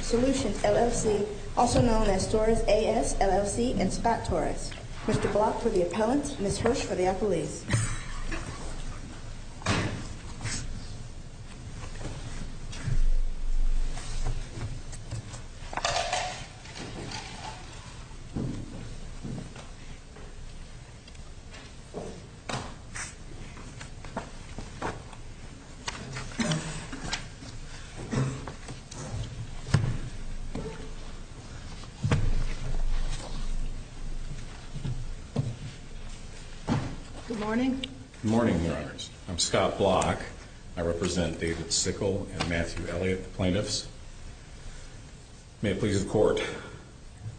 Solution, LLC, also known as Torres AS, LLC, and SPAT Torres. Mr. Block for the appellant, Ms. Hirsch for the appellees. Good morning, your honors. I'm Scott Block. I represent David Sickle and Matthew Elliott, the plaintiffs. May it please the court.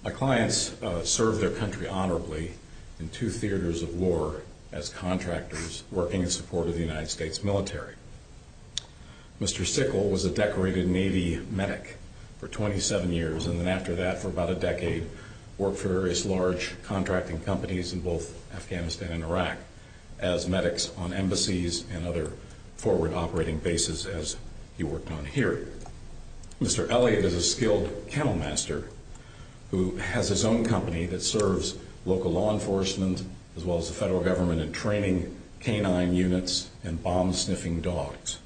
My clients served their country honorably in two theaters of war as contractors working in support of the United States military. Mr. Sickle was a decorated Navy medic for 27 years and then after that for about a decade worked for various large contracting companies in both Afghanistan and Iraq as medics on embassies and other forward operating bases as he worked on here. Mr. Elliott is a skilled kennel master who has his own company that serves local law enforcement as well as the federal government in training canine units and bomb sniffing dogs.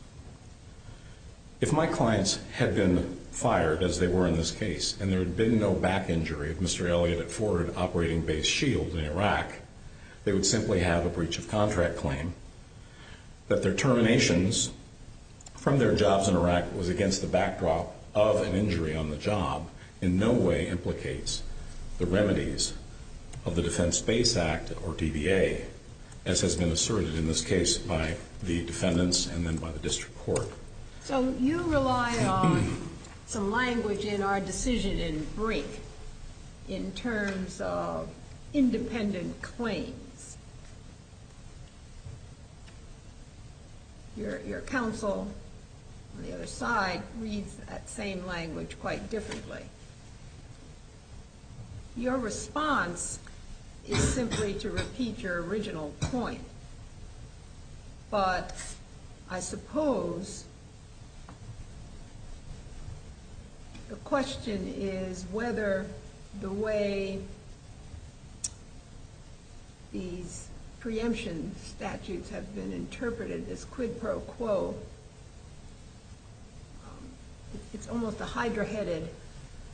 If my clients had been fired as they were in this case and there had been no back injury of Mr. Elliott at forward operating base Shield in Iraq, they would simply have a breach of against the backdrop of an injury on the job in no way implicates the remedies of the Defense Base Act or DBA as has been asserted in this case by the defendants and then by the district court. So you rely on some language in our decision in Brink in terms of independent claims. Your counsel on the other side reads that same language quite differently. Your response is simply to repeat your original point but I suppose the question is whether the way these preemption statutes have been interpreted as quid pro quo, it's almost a hydra-headed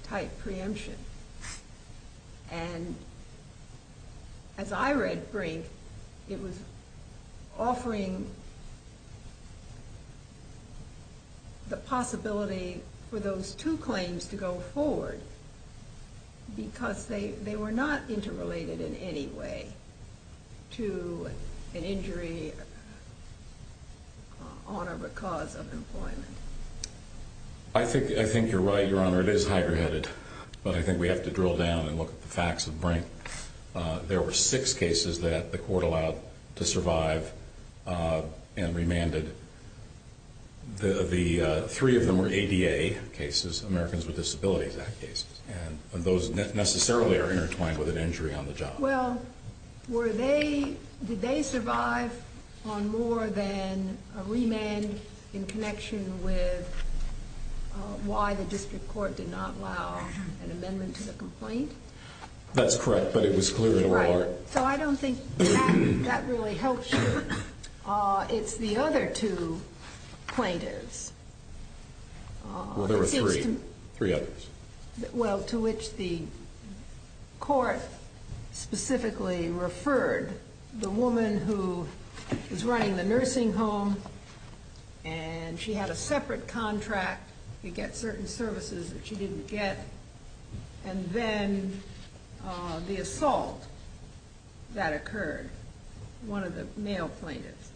type preemption and as I read Brink, it was offering the possibility for those two claims to go forward because they were not interrelated in any way to an injury on or because of employment. I think you're right, Your Honor. It is hydra-headed but I think we have to drill down and look at the facts of Brink. There were six cases that the court allowed to survive and remanded. The three of them were ADA cases, Americans with Disabilities Act cases and those necessarily are intertwined with an injury on the job. Well, did they survive on more than a remand in connection with why the district court did not allow an amendment to the complaint? That's correct but it was clear in the law. So I don't think that really helps you. It's the other two plaintiffs. Well, there were three. Three others. Well, to which the court specifically referred the woman who was running the nursing home and she had a separate contract to get certain services that she didn't get and then the assault that occurred, one of the male plaintiffs.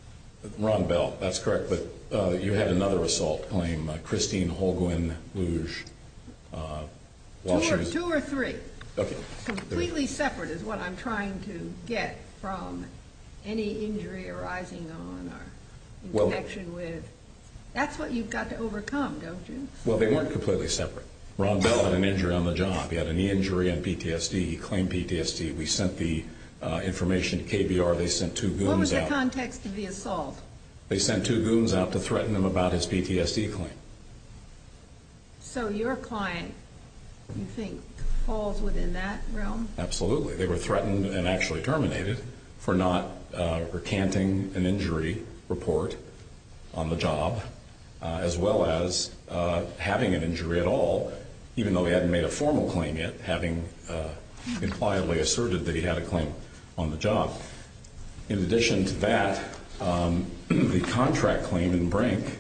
Ron Bell, that's correct but you had another assault claim, Christine Holguin-Louge. Two or three. Completely separate is what I'm trying to get from any injury arising on or in connection with. That's what you've got to overcome, don't you? Well, they weren't completely separate. Ron Bell had an injury on the job. He had a knee injury and PTSD. He claimed PTSD. We sent the information to KBR. They sent two goons out. What was the context of the assault? They sent two goons out to threaten him about his PTSD claim. So your client, you think, falls within that realm? Absolutely. They were threatened and actually terminated for not recanting an injury report on the job as well as having an injury at all, even though he hadn't made a formal claim yet, having impliedly asserted that he had a claim on the job. In addition to that, the contract claim in Brink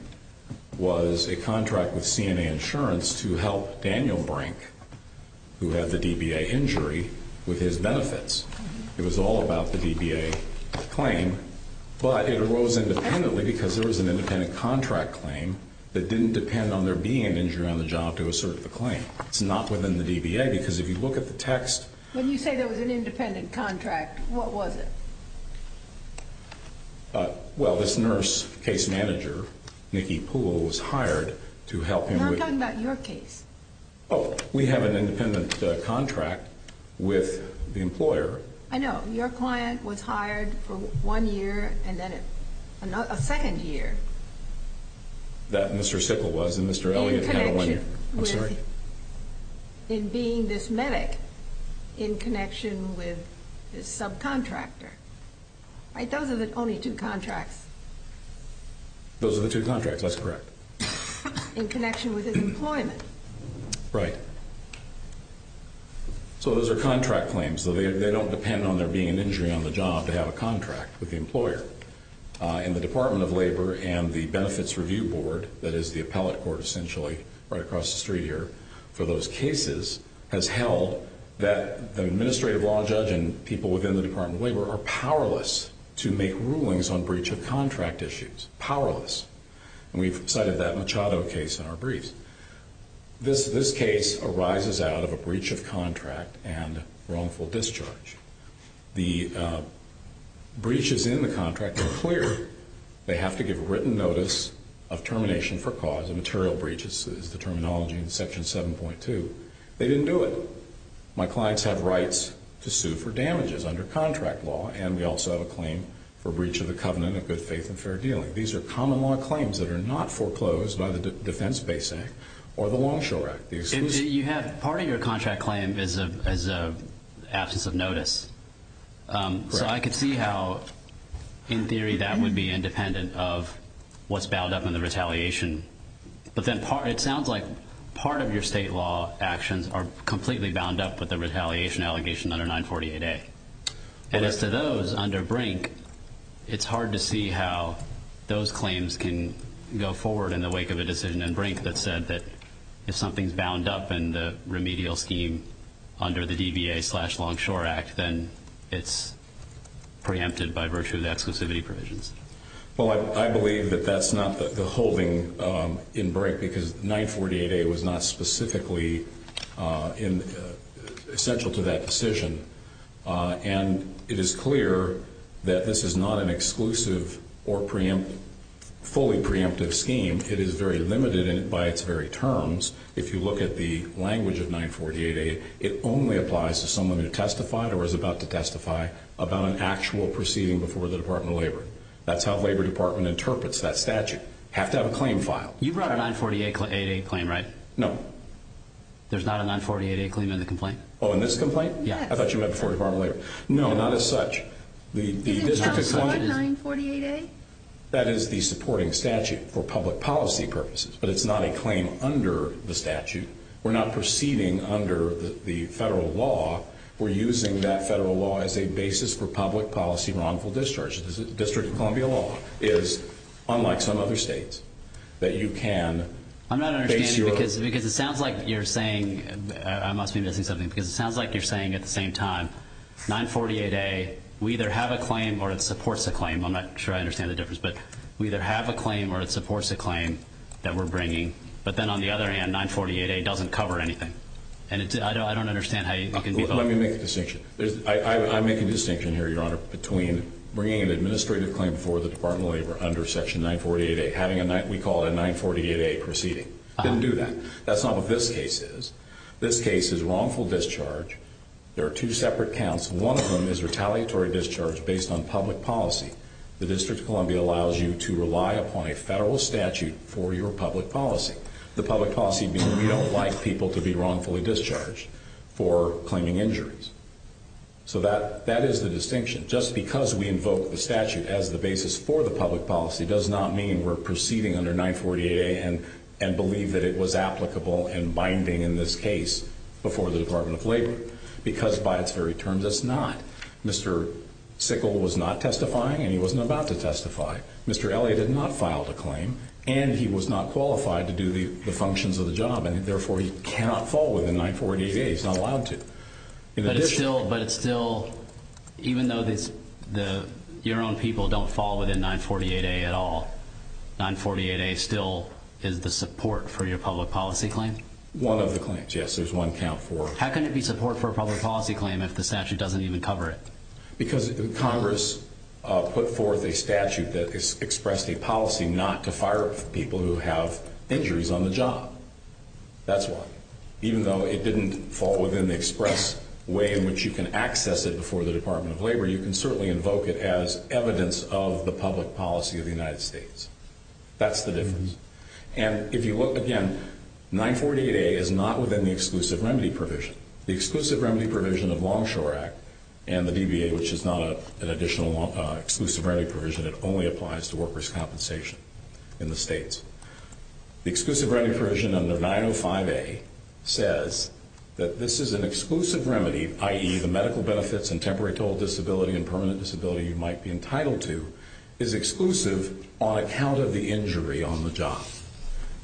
was a contract with CNA Insurance to help Daniel Brink, who had the DBA injury, with his benefits. It was all about the DBA claim, but it arose independently because there was an independent contract claim that didn't depend on there being an injury on the job to assert the claim. It's not within the DBA because if you look at the text... When you say there was an independent contract, what was it? Well, this nurse case manager, Nikki Poole, was hired to help him with... No, I'm talking about your case. Oh, we have an independent contract with the employer. I know. Your client was hired for one year and then a second year. That Mr. Sickle was and Mr. Elliott had one year. In connection with... I'm sorry? In connection with his subcontractor. Those are the only two contracts. Those are the two contracts, that's correct. In connection with his employment. Right. So those are contract claims. They don't depend on there being an injury on the job to have a contract with the employer. In the Department of Labor and the Benefits Review Board, that is the appellate court essentially right across the street here, for those cases has held that the administrative law judge and people within the Department of Labor are powerless to make rulings on breach of contract issues. Powerless. And we've cited that Machado case in our briefs. This case arises out of a breach of contract and wrongful discharge. The breaches in the contract are clear. They have to give written notice of termination for cause. A material breach is the terminology in Section 7.2. They didn't do it. My clients have rights to sue for damages under contract law and we also have a claim for breach of the covenant of good faith and fair dealing. These are common law claims that are not foreclosed by the Defense Base Act or the Longshore Act. Part of your contract claim is an absence of notice. So I could see how in theory that would be independent of what's bound up in the retaliation. But then it sounds like part of your state law actions are completely bound up with the retaliation allegation under 948A. And as to those under Brink, it's hard to see how those claims can go forward in the wake of a decision in Brink that said that if something's bound up in the remedial scheme under the DBA slash Longshore Act, then it's preempted by virtue of the exclusivity provisions. Well, I believe that that's not the holding in Brink because 948A was not specifically essential to that decision. And it is clear that this is not an exclusive or fully preemptive scheme. It is very limited by its very terms. If you look at the language of 948A, it only applies to someone who testified or is about to testify about an actual proceeding before the Department of Labor. That's how the Labor Department interprets that statute. You have to have a claim file. You brought a 948A claim, right? No. There's not a 948A claim in the complaint? Oh, in this complaint? Yeah. I thought you meant before the Department of Labor. No, not as such. Is it counted toward 948A? That is the supporting statute for public policy purposes, but it's not a claim under the statute. We're not proceeding under the federal law. We're using that federal law as a basis for public policy wrongful discharge. The District of Columbia law is, unlike some other states, that you can base your... I'm not understanding because it sounds like you're saying, I must be missing something, because it sounds like you're saying at the same time, 948A, we either have a claim or it supports a claim. I'm not sure I understand the difference, but we either have a claim or it supports a claim that we're bringing, but then on the other hand, 948A doesn't cover anything. And I don't understand how you can be... Let me make a distinction. I make a distinction here, Your Honor, between bringing an administrative claim for the Department of Labor under Section 948A, having a 9... We call it a 948A proceeding. Didn't do that. That's not what this case is. This case is wrongful discharge. There are two separate counts. One of them is retaliatory discharge based on public policy. The District of Columbia allows you to rely upon a federal statute for your public policy, the public policy being we don't like people to be wrongfully discharged for claiming injuries. So that is the distinction. Just because we invoke the statute as the basis for the public policy does not mean we're proceeding under 948A and believe that it was applicable and binding in this case before the Department of Labor, because by its very terms, it's not. Mr. Sickle was not testifying and he wasn't about to testify. Mr. Elliott had not filed a claim and he was not qualified to do the functions of the job and therefore he cannot fall within 948A. He's not allowed to. In addition... But it's still... Even though your own people don't fall within 948A at all, 948A still is the support for your public policy claim? One of the claims, yes. There's one count for... How can it be support for a public policy claim if the statute doesn't even cover it? Because Congress put forth a statute that expressed a policy not to fire people who have injuries on the job. That's why. Even though it didn't fall within the express way in which you can access it before the Department of Labor, you can certainly invoke it as evidence of the public policy of the United States. That's the difference. And if you look again, 948A is not within the Exclusive Remedy Provision. The Exclusive Remedy Provision of Longshore Act and the DBA, which is not an additional Exclusive Remedy Provision, it only applies to workers' compensation in the states. The Exclusive Remedy Provision under 905A says that this is an exclusive remedy, i.e. the medical benefits and temporary total disability and permanent disability you might be entitled to, is exclusive on account of the injury on the job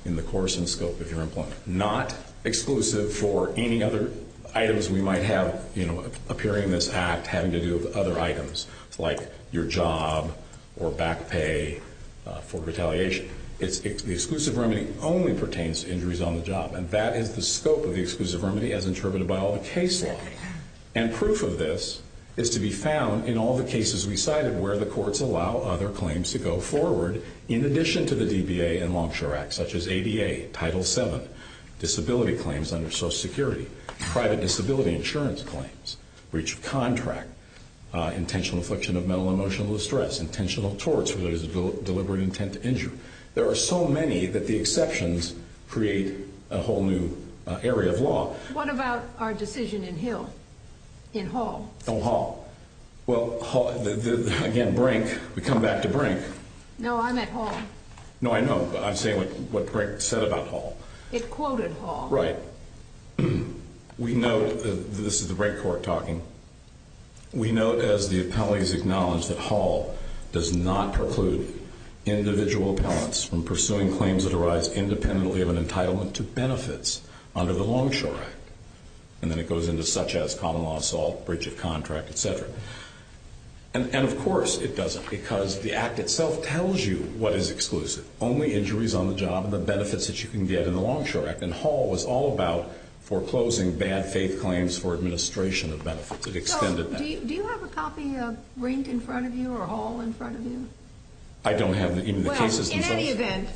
in the course and scope of your employment. Not exclusive for any other items we might have, you know, appearing in this act, having to do with other items like your job or back pay for retaliation. The Exclusive Remedy only pertains to injuries on the job, and that is the scope of the Exclusive Remedy as interpreted by all the case law. And proof of this is to be found in all the cases we cited where the courts allow other claims to go forward in addition to the DBA and Longshore Act, such as ADA, Title VII, disability claims under Social Security, private disability insurance claims, breach of contract, intentional affliction of mental and emotional distress, intentional torts for those with deliberate intent to injure. There are so many that the exceptions create a whole new area of law. What about our decision in Hill, in Hall? Oh, Hall. Well, again, Brink, we come back to Brink. No, I meant Hall. No, I know, but I'm saying what Brink said about Hall. It quoted Hall. Right. We note, this is the Brink Court talking, we note as the appellees acknowledge that Hall does not preclude individual appellants from pursuing claims that arise independently of an entitlement to benefits under the Longshore Act. And then it goes into such as common law assault, breach of contract, et cetera. And of course it doesn't, because the Act itself tells you what is exclusive. Only injuries on the job, the benefits that you can get in the Longshore Act. And Hall was all about foreclosing bad faith claims for administration of benefits. It extended that. Do you have a copy of Brink in front of you, or Hall in front of you? I don't have any of the cases. Well, in any event,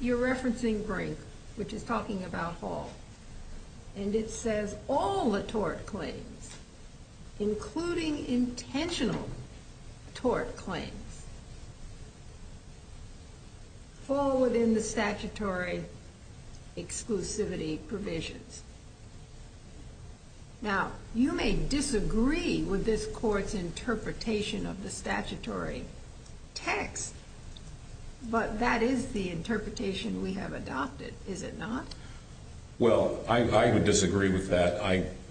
you're referencing Brink, which is talking about Hall. And it says, all the tort claims, including intentional tort claims, fall within the statutory exclusivity provisions. Now, you may disagree with this court's interpretation of the statutory text, but that is the interpretation we have adopted, is it not? Well, I would disagree with that.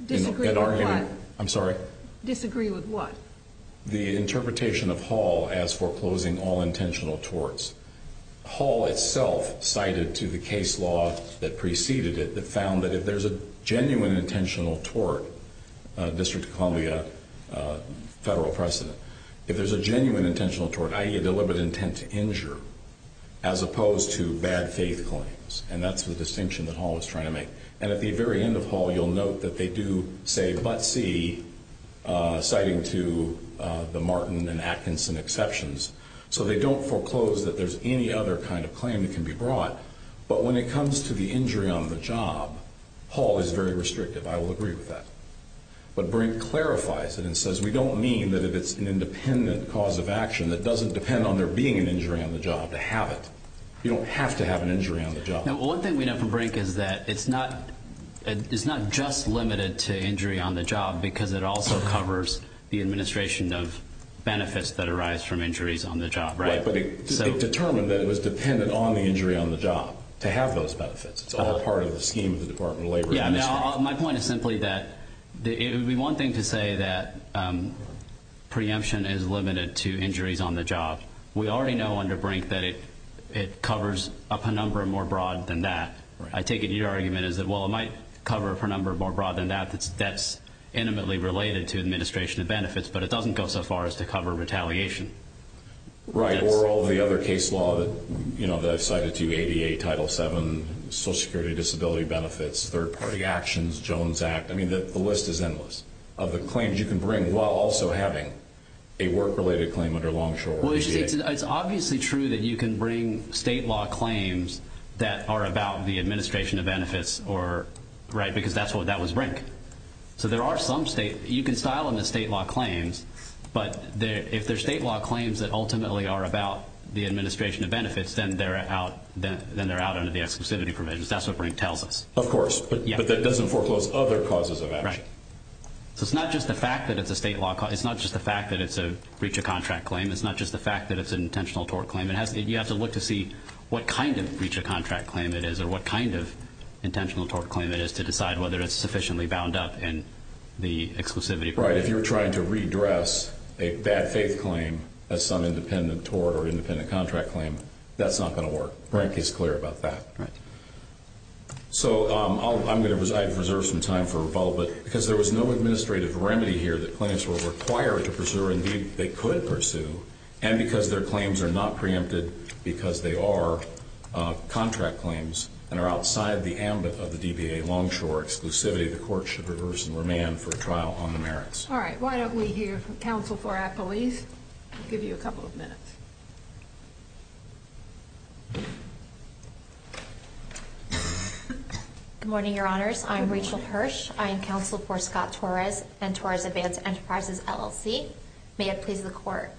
Disagree with what? I'm sorry? Disagree with what? The interpretation of Hall as foreclosing all intentional torts. Hall itself cited to the case law that preceded it that found that if there's a genuine intentional tort, District of Columbia, federal precedent, if there's a genuine intentional tort, i.e. a deliberate intent to injure, as opposed to bad faith claims, and that's the distinction that Hall was trying to make. And at the very end of Hall, you'll note that they do say, but see, citing to the Martin and Atkinson exceptions. So they don't foreclose that there's any other kind of claim that can be brought. But when it comes to the injury on the job, Hall is very restrictive. I will agree with that. But Brink clarifies it and says, we don't mean that if it's an independent cause of action that doesn't depend on there being an injury on the job to have it. You don't have to have an injury on the job. One thing we know from Brink is that it's not just limited to injury on the job because it also covers the administration of benefits that arise from injuries on the job. But it determined that it was dependent on the injury on the job to have those benefits. It's all part of the scheme of the Department of Labor. My point is simply that it would be one thing to say that preemption is limited to injuries on the job. We already know under Brink that it covers a penumbra more broad than that. I take it your argument is that while it might cover a penumbra more broad than that, that's intimately related to administration of benefits but it doesn't go so far as to cover retaliation. Right. Or all the other case law that I've cited to you, ADA, Title VII, Social Security Disability Benefits, Third Party Actions, Jones Act. The list is endless of the claims you can bring while also having a work-related claim under Longshore. It's obviously true that you can bring state law claims that are about the administration of benefits because that was Brink. You can style them as state law claims but if they're state law claims that ultimately are about the administration of benefits, then they're out under the exclusivity provisions. That's what Brink tells us. Of course, but that doesn't foreclose other causes of action. So it's not just the fact that it's a state law claim. It's not just the fact that it's a breach of contract claim. It's not just the fact that it's an intentional tort claim. You have to look to see what kind of breach of contract claim it is or what kind of intentional tort claim it is to decide whether it's sufficiently bound up in the exclusivity provision. Right. If you're trying to redress a bad faith claim as some independent tort or independent contract claim, that's not going to work. Brink is clear about that. Right. So I'm going to reserve some time for rebuttal, but because there was no administrative remedy here that claims were required to pursue or indeed they could pursue and because their claims are not preempted because they are contract claims and are outside the ambit of the DBA longshore exclusivity, the court should reverse and remand for a trial on the merits. All right. Why don't we hear from counsel for our police. I'll give you a couple of minutes. Good morning, your honors. I'm Rachel Hirsch. I am counsel for Scott Torres and Torres Advanced Enterprises LLC. May I please the court?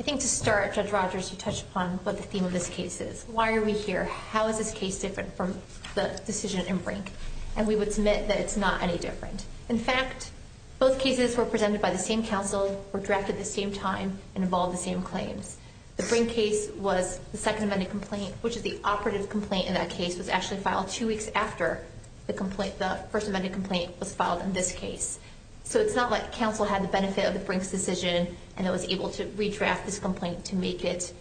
I think to start, Judge Rogers, you touched upon what the theme of this case is. Why are we here? How is this case different from the decision in Brink? And we would submit that it's not any different. In fact, both cases were presented by the same counsel, were drafted at the same time and involved the same claims. The Brink case was the second vending complaint which is the operative complaint in that case was actually filed two weeks after the first vending complaint was filed in this case. So it's not like counsel had the benefit of the Brink's decision and was able to redraft this complaint to make it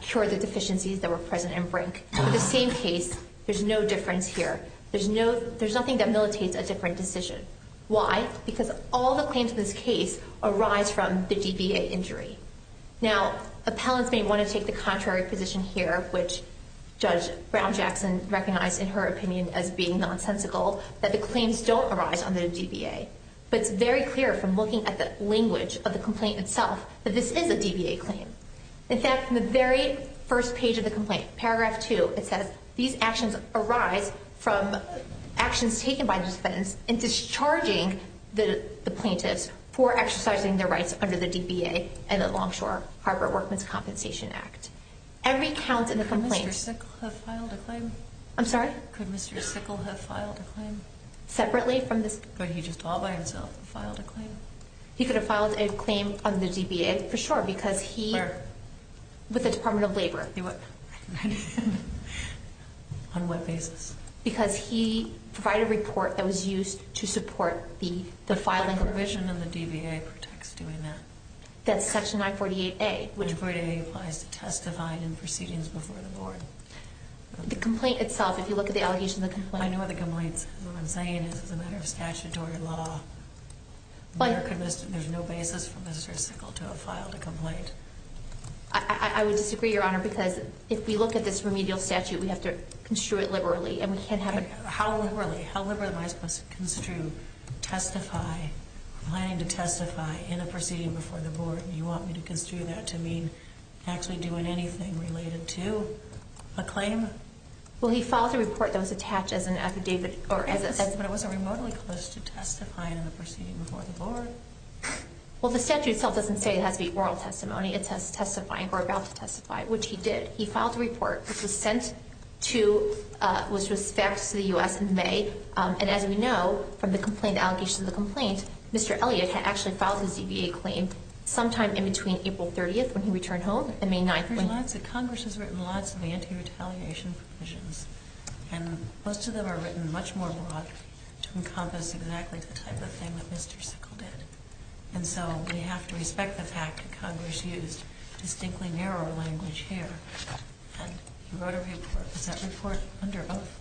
cure the deficiencies that were present in Brink. In the same case, there's no difference here. There's nothing that militates a different decision. Why? Because all the claims in this case arise from the DBA injury. Now, appellants may want to take the contrary position here, which Judge Brown-Jackson recognized in her opinion as being nonsensical that the claims don't arise under the DBA. But it's very clear from looking at the language of the complaint itself that this is a DBA claim. In fact, in the very first page of the complaint, paragraph two, it says these actions arise from actions taken by the defendants and discharging the plaintiffs for exercising their rights under the DBA and the Longshore Harbor Work Miscompensation Act. Every count in the complaint... Could Mr. Sickle have filed a claim? I'm sorry? Could Mr. Sickle have filed a claim? Separately from this... Could he just all by himself have filed a claim? He could have filed a claim under the DBA for sure because he... Where? With the Department of Labor. On what basis? Because he provided a report that was used to support the filing... But what provision in the DBA protects doing that? That's section 948A. 948A applies to testifying in proceedings before the board. The complaint itself, if you look at the allocation of the complaint... I know what the complaint is. What I'm saying is it's a matter of statutory law. There's no basis for Mr. Sickle to have filed a complaint. I would disagree, Your Honor, because if we look at this remedial statute, we have to construe it liberally and we can't have... How liberally? How liberally am I supposed to construe testifying, planning to testify before the board? Do you want me to construe that to mean actually doing anything related to a claim? Well, he filed a report that was attached as an affidavit or as a... But it wasn't remotely close to testifying in the proceeding before the board. Well, the statute itself doesn't say it has to be oral testimony. It says testifying or about to testify, which he did. He filed a report which was sent to... which was faxed to the U.S. in May and as we know from the complaint, the allocation of the complaint, Mr. Elliott had actually filed his EBA claim sometime in between April 30th when he returned home and May 9th when... There's lots of... Congress has written lots of anti-retaliation provisions and most of them are written much more broadly to encompass exactly the type of thing that Mr. Sickle did. And so we have to respect the fact that Congress used distinctly narrower language here and he wrote a report. Was that report under oath?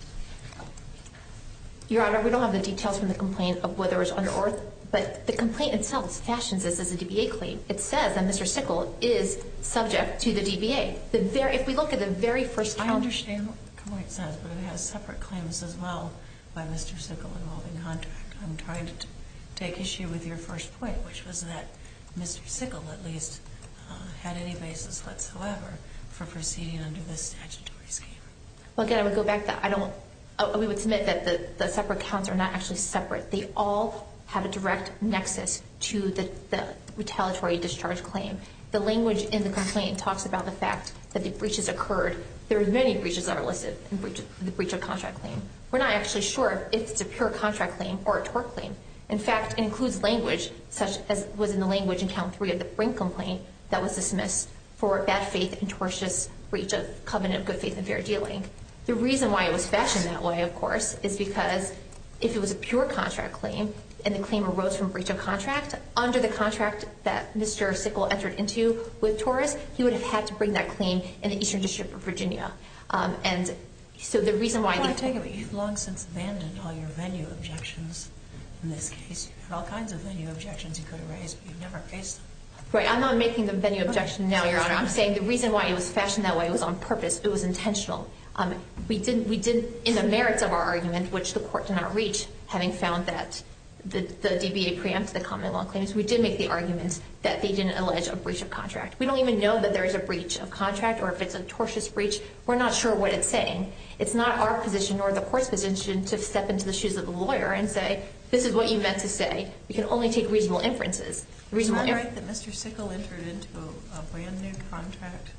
Your Honor, we don't have the details from the complaint of whether it was under oath but the complaint itself fashions this as a DBA claim. It says that Mr. Sickle is subject to the DBA. If we look at the very first... I understand what the complaint says but it has separate claims as well by Mr. Sickle involving contract. I'm trying to take issue with your first point which was that Mr. Sickle at least had any basis whatsoever for proceeding under this statutory scheme. Well, again, I would go back to that. We would submit that the separate counts are not actually separate. They all have a direct nexus to the retaliatory discharge claim. The language in the complaint talks about the fact that the breaches occurred. There are many breaches that are listed in the breach of contract claim. We're not actually sure if it's a pure contract claim or a tort claim. In fact, it includes language such as was in the language that was dismissed for bad faith and tortious breach of covenant of good faith and fair dealing. The reason why it was fashioned that way, of course, is because if it was a pure contract claim and the claim arose from breach of contract under the contract that Mr. Sickle entered into with Torres, he would have had to bring that claim in the Eastern District of Virginia. So the reason why... You've long since abandoned all your venue objections in this case. You have all kinds of venue objections you could have raised but you've never raised them. I'm not making the venue objection now, Your Honor. I'm saying the reason why it was fashioned that way was on purpose. It was intentional. We did, in the merits of our argument which the court did not reach, having found that the DBA preempted the common law claims, we did make the argument that they didn't allege a breach of contract. We don't even know that there's a breach of contract or if it's a tortious breach. We're not sure what it's saying. It's not our position or the court's position to step into the shoes of the lawyer and say this is what you meant to say. We can only take reasonable inferences. Is that right that Mr. Sickle entered into a brand new contract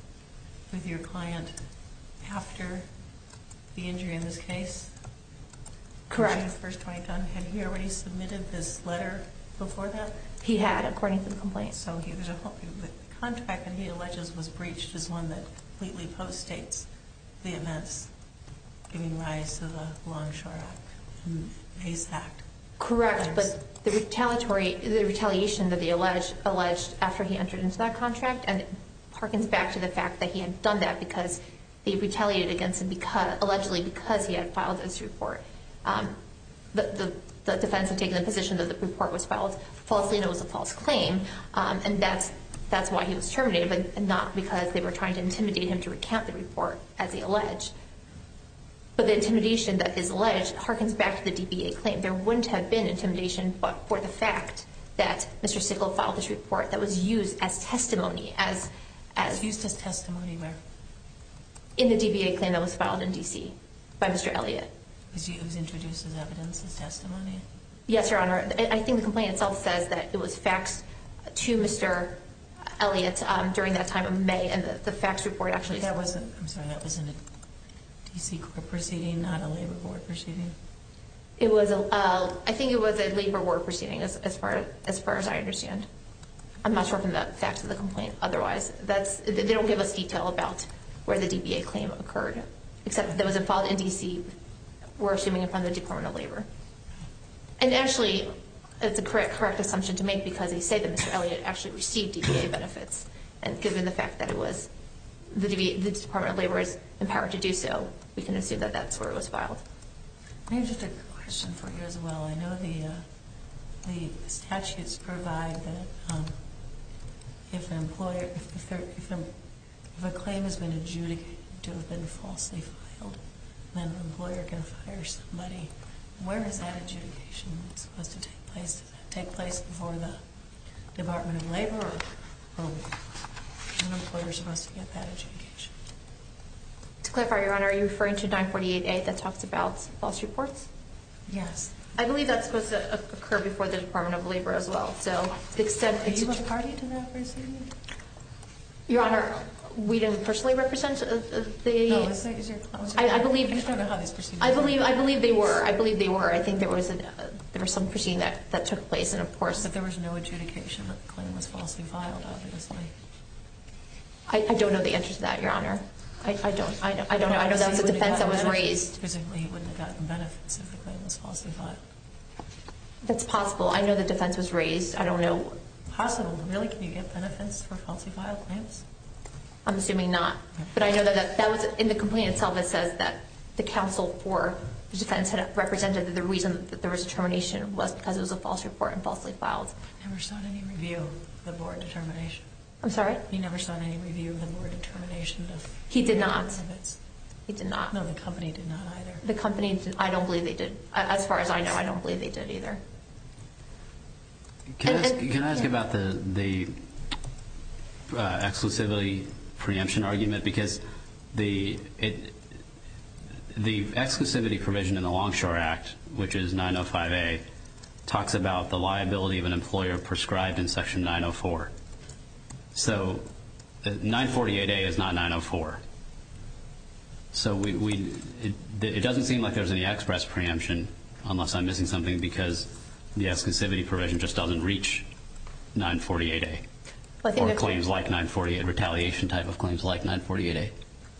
with your client after the injury in this case? Correct. Had he already submitted this letter before that? He had, according to the complaint. So the contract that he alleges was breached is one that completely post-states the events giving rise to the Longshore Act and ASAC. Correct. The retaliation that he alleged after he entered into that contract harkens back to the fact that he had done that because he retaliated allegedly because he had filed this report. The defense had taken the position that the report was filed falsely and it was a false claim and that's why he was terminated, but not because they were trying to intimidate him to recount the report as he alleged. But the intimidation that is alleged harkens back to the DBA claim. There wouldn't have been intimidation for the fact that Mr. Sickle filed this report that was used as testimony. Used as testimony where? In the DBA claim that was filed in D.C. by Mr. Elliott. It was introduced as evidence as testimony? Yes, Your Honor. I think the complaint itself says that it was faxed to Mr. Elliott during that time of May and the fax report actually... That was in a D.C. court proceeding, not a labor board proceeding? It was a... I think it was a labor board proceeding as far as I understand. I'm not sure from the facts of the complaint otherwise. They don't give us detail about where the DBA claim occurred except that it was filed in D.C. we're assuming from the Department of Labor. And actually it's a correct assumption to make because they say that Mr. Elliott actually received DBA benefits and given the fact that it was the Department of Labor that was empowered to do so, we can assume that that's where it was filed. I have just a question for you as well. I know the statutes provide that if an employer if a claim has been adjudicated to have been falsely filed, then the employer can fire somebody. Where is that adjudication supposed to take place? Does it take place before the Department of Labor? Or is an employer supposed to get that adjudication? To clarify, Your Honor, are you referring to 948A that talks about false reports? Yes. I believe that's supposed to occur before the Department of Labor as well. Are you a party to that proceeding? Your Honor, we didn't personally represent the... I believe they were. I believe they were. I think there was some proceeding that took place and of course... But there was no adjudication that the claim was falsely filed, obviously. I don't know the answer to that, Your Honor. I don't know. I know that was a defense that was raised. He wouldn't have gotten benefits if the claim was falsely filed. That's possible. I know the defense was raised. I don't know... Possible? Really? Can you get benefits for falsely filed claims? I'm assuming not. But I know that was in the complaint itself that says that the counsel for the defense had represented that the reason that there was a termination was because it was a false report and falsely filed. Never saw any review of the board termination. I'm sorry? He never saw any review of the board termination? He did not. He did not. No, the company did not either. The company... I don't believe they did. As far as I know, I don't believe they did either. Can I ask about the exclusivity preemption argument? Because the exclusivity provision in the Longshore Act which is 905A talks about the liability of an employer prescribed in Section 904. So 948A is not 904. So it doesn't seem like there's any express preemption unless I'm missing something because the exclusivity provision just doesn't reach 948A. Or claims like 948, retaliation type of claims like 948A.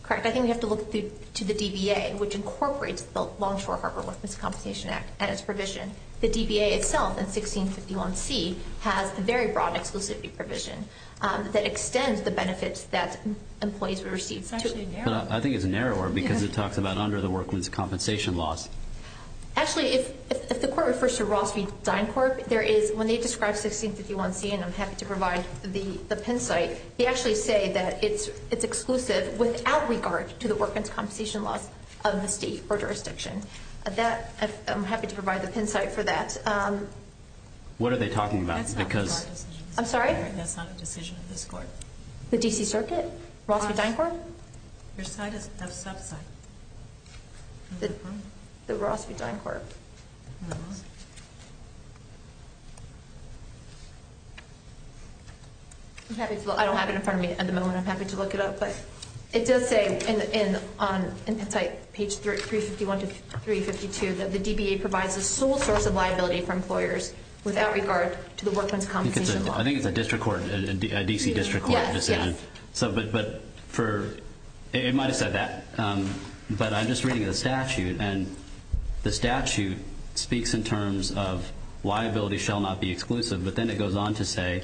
Correct. I think we have to look to the DBA which incorporates the Longshore Harbor Missing Compensation Act and its provision. The DBA itself in 1651C has a very broad exclusivity provision that extends the benefits that employees receive. It's actually narrower. I think it's narrower because it talks about under the Workman's Compensation laws. Actually, if the Court refers to Ross v. Dine Court, there is, when they describe 1651C and I'm happy to provide the pin site, they actually say that it's exclusive without regard to the Workman's Compensation laws of the state or jurisdiction. I'm happy to provide the pin site for that. What are they talking about? I'm sorry? That's not a decision of this Court. The D.C. Circuit? Ross v. Dine Court? The sub-site. The Ross v. Dine Court. I don't have it in front of me at the moment. I'm happy to look it up. It does say in 1651-352 that the DBA provides the sole source of liability for employers without regard to the Workman's Compensation law. I think it's a D.C. District Court decision. It might have said that. I'm just reading the statute. The statute speaks in terms of liability shall not be exclusive, but then it goes on to say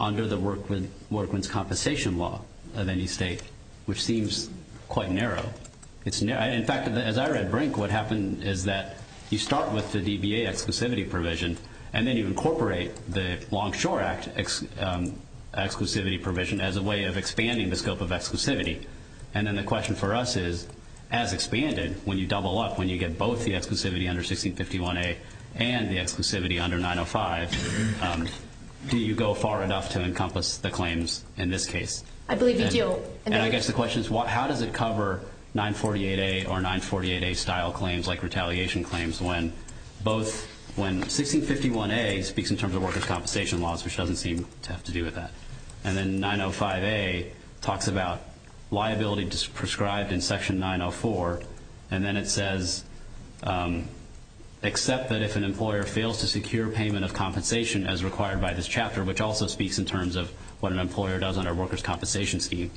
under the Workman's Compensation law of any state which seems quite narrow. In fact, as I read Brink, what happened is that you start with the DBA exclusivity provision and then you incorporate the Longshore Act exclusivity provision as a way of expanding the scope of exclusivity. The question for us is, as expanded, when you double up, when you get both the exclusivity under 1651-A and the exclusivity under 905, do you go far enough to encompass the claims in this case? I believe you do. I guess the question is, how does it cover 948-A or 948-A style claims like retaliation claims when both, when 1651-A speaks in terms of Worker's Compensation laws, which doesn't seem to have to do with that, and then 905-A talks about liability prescribed in section 904 and then it says except that if an employer fails to secure payment of compensation as required by this chapter, which also speaks in terms of what an employer does under Worker's Compensation scheme,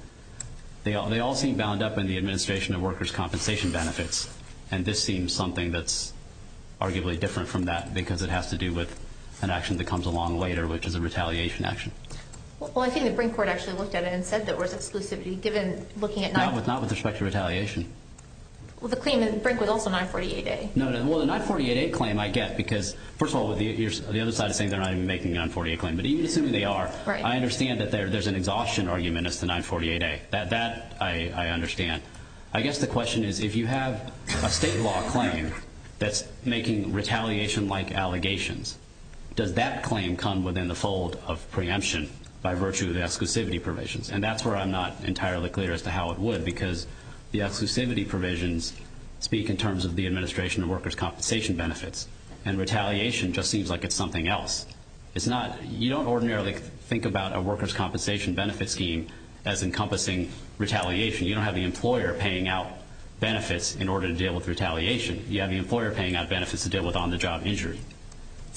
they all seem bound up in the Administration of Worker's Compensation Benefits and this seems something that's arguably different from that because it has to do with an action that comes along later which is a retaliation action. Well, I think the Brink Court actually looked at it and said there was exclusivity given looking at Not with respect to retaliation. Well, the claim in Brink was also 948-A. No, no. Well, the 948-A claim I get because, first of all, the other side is saying they're not even making the 948-A claim, but even assuming they are, I understand that there's an exhaustion argument as to 948-A. That I understand. I guess the question is if you have a state law claim that's making retaliation-like allegations, does that claim come within the fold of preemption by virtue of the exclusivity provisions? And that's where I'm not entirely clear as to how it would because the exclusivity provisions speak in terms of the Administration of Worker's Compensation Benefits and retaliation just seems like it's something else. It's not. You don't ordinarily think about a worker's compensation benefit scheme as encompassing retaliation. You don't have the employer paying out benefits in order to deal with retaliation. You have the employer paying out benefits to deal with on-the-job injury.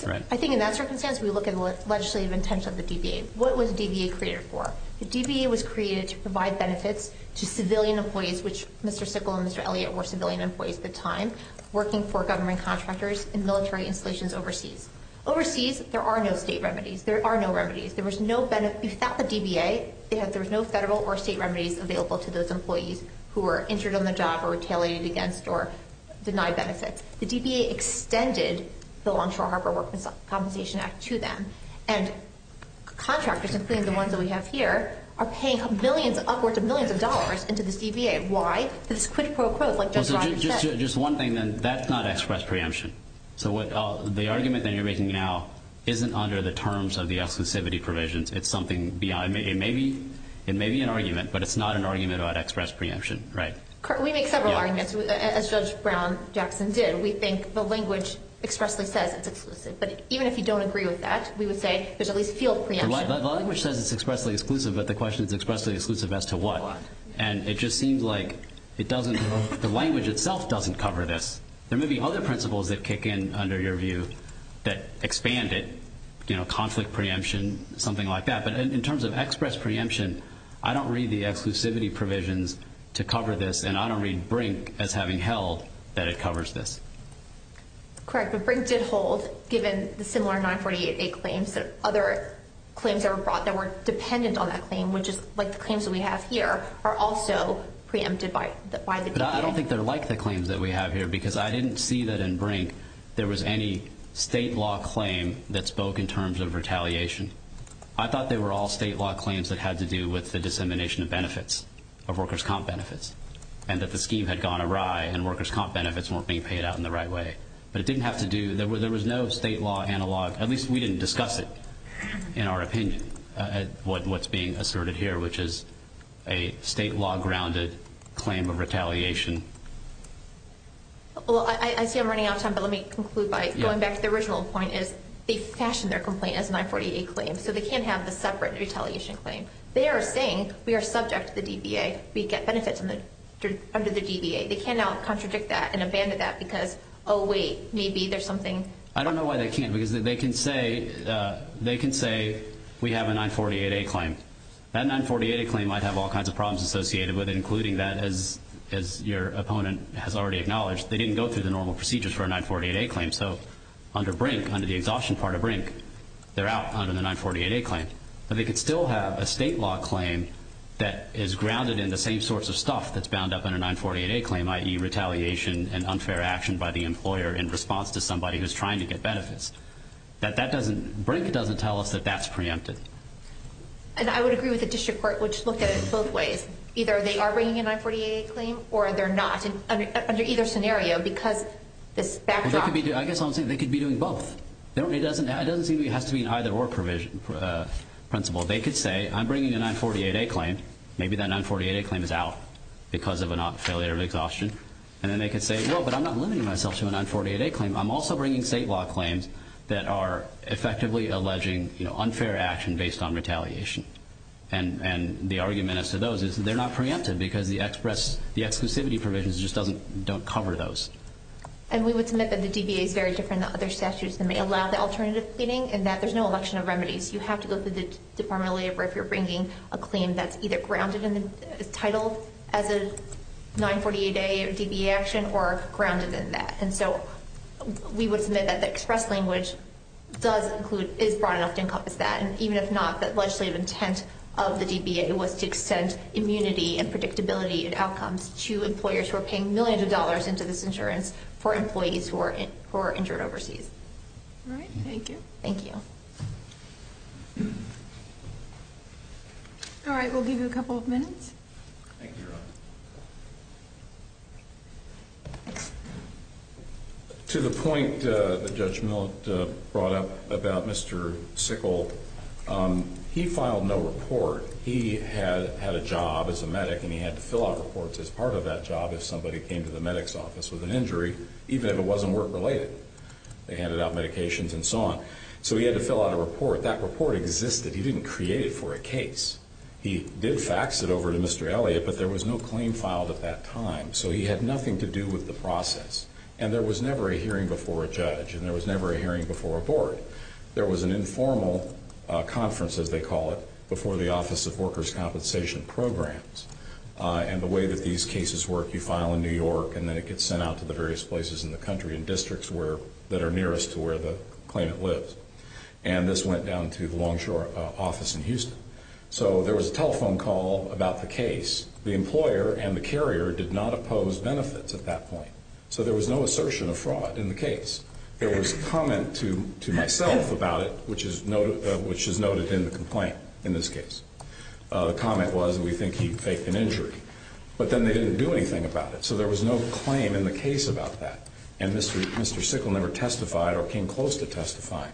I think in that circumstance, we look at the legislative intention of the DBA. What was DBA created for? The DBA was created to provide benefits to civilian employees which Mr. Sickle and Mr. Elliott were civilian employees at the time, working for government contractors in military installations overseas. Overseas, there are no state remedies. There are no remedies. Without the DBA, there's no federal or state remedies available to those employees who were injured on the job or retaliated against or denied benefits. The DBA extended the Longshore Harbor Worker's Compensation Act to them and contractors, including the ones that we have here, are paying upwards of millions of dollars into this DBA. Why? Because it's quid pro quo, like John said. Just one thing then. That's not express preemption. The argument that you're making now isn't under the terms of the exclusivity provisions. It may be an argument, but it's not an argument about express preemption. We make several arguments, as Judge Brown-Jackson did. We think the language expressly says it's exclusive, but even if you don't agree with that, we would say there's at least field preemption. The language says it's expressly exclusive, but the question is expressly exclusive as to what? It just seems like the language itself doesn't cover this. There may be other principles that kick in under your view that expand it. Conflict preemption, something like that. But in terms of express preemption, I don't read the exclusivity provisions to cover this, and I don't read Brink as having held that it covers this. Correct. But Brink did hold, given the similar 948A claims, that other claims that were brought that were dependent on that claim, which is like the claims that we have here, are also preempted I don't think they're like the claims that we have here, because I didn't see that in Brink there was any state law claim that spoke in terms of retaliation. I thought they were all state law claims that had to do with the dissemination of benefits, of workers' comp benefits, and that the scheme had gone awry and workers' comp benefits weren't being paid out in the right way. But it didn't have to do there was no state law analog at least we didn't discuss it in our opinion, what's being asserted here, which is a state law grounded claim of retaliation. Well, I see I'm running out of time, but let me conclude by going back to the original point is they fashioned their complaint as a 948A claim, so they can't have the separate retaliation claim. They are saying we are subject to the DBA, we get benefits under the DBA. They cannot contradict that and abandon that because oh wait, maybe there's something I don't know why they can't, because they can say they can say we have a 948A claim. That 948A claim might have all kinds of problems associated with it, including that as your opponent has already acknowledged they didn't go through the normal procedures for a 948A claim, so under Brink, under the exhaustion part of Brink, they're out under the 948A claim. But they could still have a state law claim that is grounded in the same sorts of stuff that's bound up in a 948A claim, i.e. retaliation and unfair action by the employer in response to somebody who's trying to get benefits. Brink doesn't tell us that that's preempted. And I would agree with the district court, which looked at it both ways. Either they are bringing a 948A claim or they're not, under either scenario because this backdrop... I guess I'm saying they could be doing both. It doesn't seem it has to be an either-or provision, principle. They could say I'm bringing a 948A claim, maybe that 948A claim is out because of a failure of exhaustion and then they could say no, but I'm not limiting myself to a 948A claim. I'm also bringing state law claims that are effectively alleging unfair action based on retaliation. The argument as to those is that they're not preempted because the exclusivity provisions just don't cover those. And we would submit that the DBA is very different than other statutes that may allow the alternative cleaning and that there's no election of remedies. You have to go through the Department of Labor if you're bringing a claim that's either grounded in the title as a 948A or DBA action or grounded in that. We would submit that the express language does include, is broad enough to encompass that. And even if not, that legislative intent of the DBA was to extend immunity and predictability and outcomes to employers who are paying millions of dollars into this insurance for employees who are injured overseas. Thank you. All right, we'll give you a couple of minutes. Thank you, Ron. To the point that Judge Millett brought up about Mr. Sickle, he filed no report. He had a job as a medic and he had to fill out reports as part of that job if somebody came to the medic's office with an injury, even if it wasn't work-related. They handed out medications and so on. So he had to fill out a report. That report existed. He didn't create it for a case. He did fax it over to Mr. Elliot, but there was no claim filed at that time. So he had nothing to do with the process. And there was never a hearing before a judge, and there was never a hearing before a board. There was an informal conference, as they call it, before the Office of Workers' Compensation Programs. And the way that these cases work, you file in New York and then it gets sent out to the various places in the country and districts that are nearest to where the claimant lives. And this went down to the Longshore office in Houston. So there was a telephone call about the case. The employer and the carrier did not oppose benefits at that point. So there was no assertion of fraud in the case. There was a comment to myself about it, which is noted in the complaint in this case. The comment was that we think he faked an injury. But then they didn't do anything about it. So there was no claim in the case about that. And Mr. Sickle never testified or came close to testifying.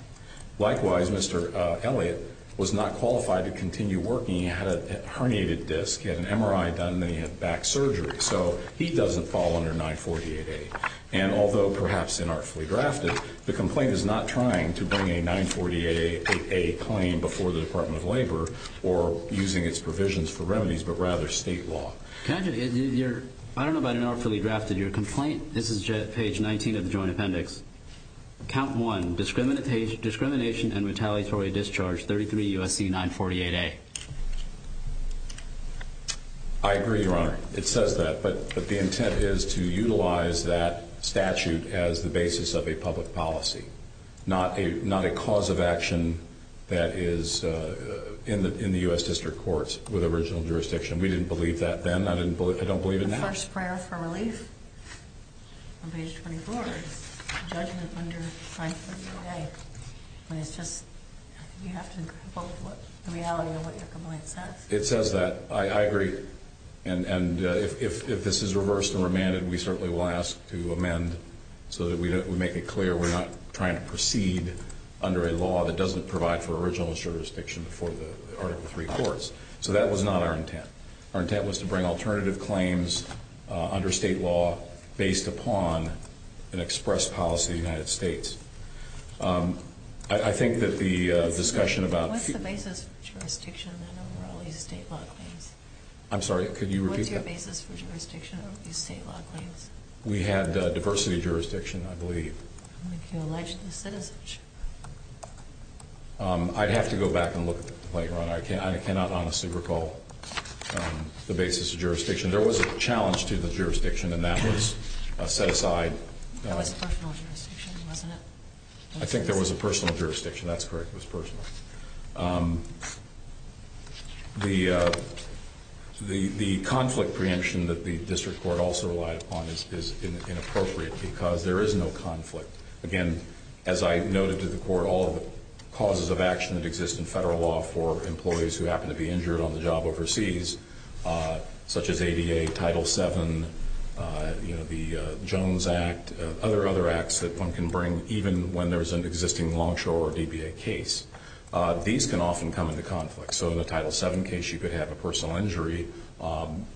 Likewise, Mr. Elliot was not qualified to continue working. He had a herniated disc. He had an MRI done and then he had back surgery. So he doesn't fall under 948A. And although perhaps inartfully drafted, the complaint is not trying to bring a 948A claim before the Department of Labor or using its provisions for remedies, but rather state law. I don't know about inartfully drafted. Your complaint, this is page 19 of the Joint Appendix. Count 1. Discrimination and retaliatory discharge. 33 U.S.C. 948A. I agree, Your Honor. It says that. But the intent is to utilize that statute as the basis of a public policy. Not a cause of action that is in the U.S. District Courts with original jurisdiction. We didn't believe that then. I don't believe it now. The first prayer for relief on page 24 is judgment under 948A. You have to look at the reality of what your complaint says. It says that. I agree. And if this is reversed and remanded, we certainly will ask to amend so that we make it clear we're not trying to proceed under a law that doesn't provide for original jurisdiction before the Article III courts. So that was not our intent. Our intent was to bring alternative claims under state law based upon an express policy of the United States. I think that the discussion about... What's the basis for jurisdiction under all these state law claims? I'm sorry, could you repeat that? What's your basis for jurisdiction over these state law claims? We had diversity of jurisdiction, I believe. You alleged the citizenship. I'd have to go back and look at the complaint, Your Honor. I cannot honestly recall the basis of jurisdiction. There was a challenge to the jurisdiction, and that was set aside. That was personal jurisdiction, wasn't it? I think there was a personal jurisdiction. That's correct. It was personal. The conflict preemption that the District Court also relied upon is inappropriate because there is no conflict. Again, as I noted to the Court, all the causes of action that exist in federal law for agencies, such as ADA, Title VII, the Jones Act, other acts that one can bring, even when there's an existing Longshore or DBA case, these can often come into conflict. So in a Title VII case, you could have a personal injury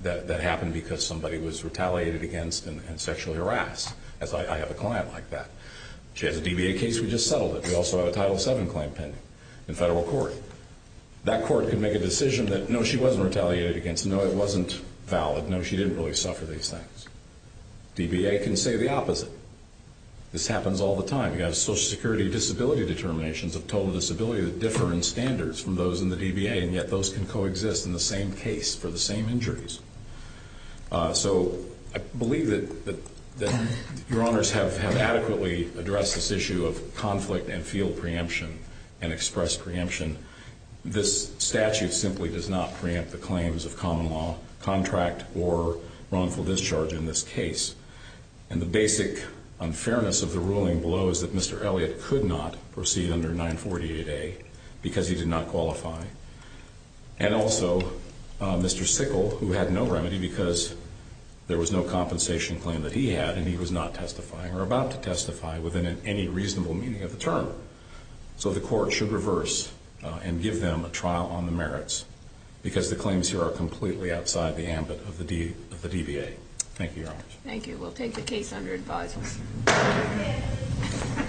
that happened because somebody was retaliated against and sexually harassed, as I have a client like that. She has a DBA case, we just settled it. We also have a Title VII claim pending in federal court. That court can make a decision that, no, she wasn't retaliated against, no, it wasn't valid, no, she didn't really suffer these things. DBA can say the opposite. This happens all the time. You have Social Security disability determinations of total disability that differ in standards from those in the DBA, and yet those can coexist in the same case for the same injuries. So, I believe that Your Honors have adequately addressed this issue of conflict and field preemption and express preemption. This statute simply does not preempt the claims of common law, contract, or wrongful discharge in this case. And the basic unfairness of the ruling below is that Mr. Elliot could not proceed under 948A because he did not qualify. And also, Mr. Sickle, who had no remedy because there was no compensation claim that he had and he was not testifying or about to testify within any reasonable meaning of the term. So the Court should reverse and give them a trial on the merits because the claims here are completely outside the ambit of the DBA. Thank you, Your Honors. Thank you. We'll take the case under advisement.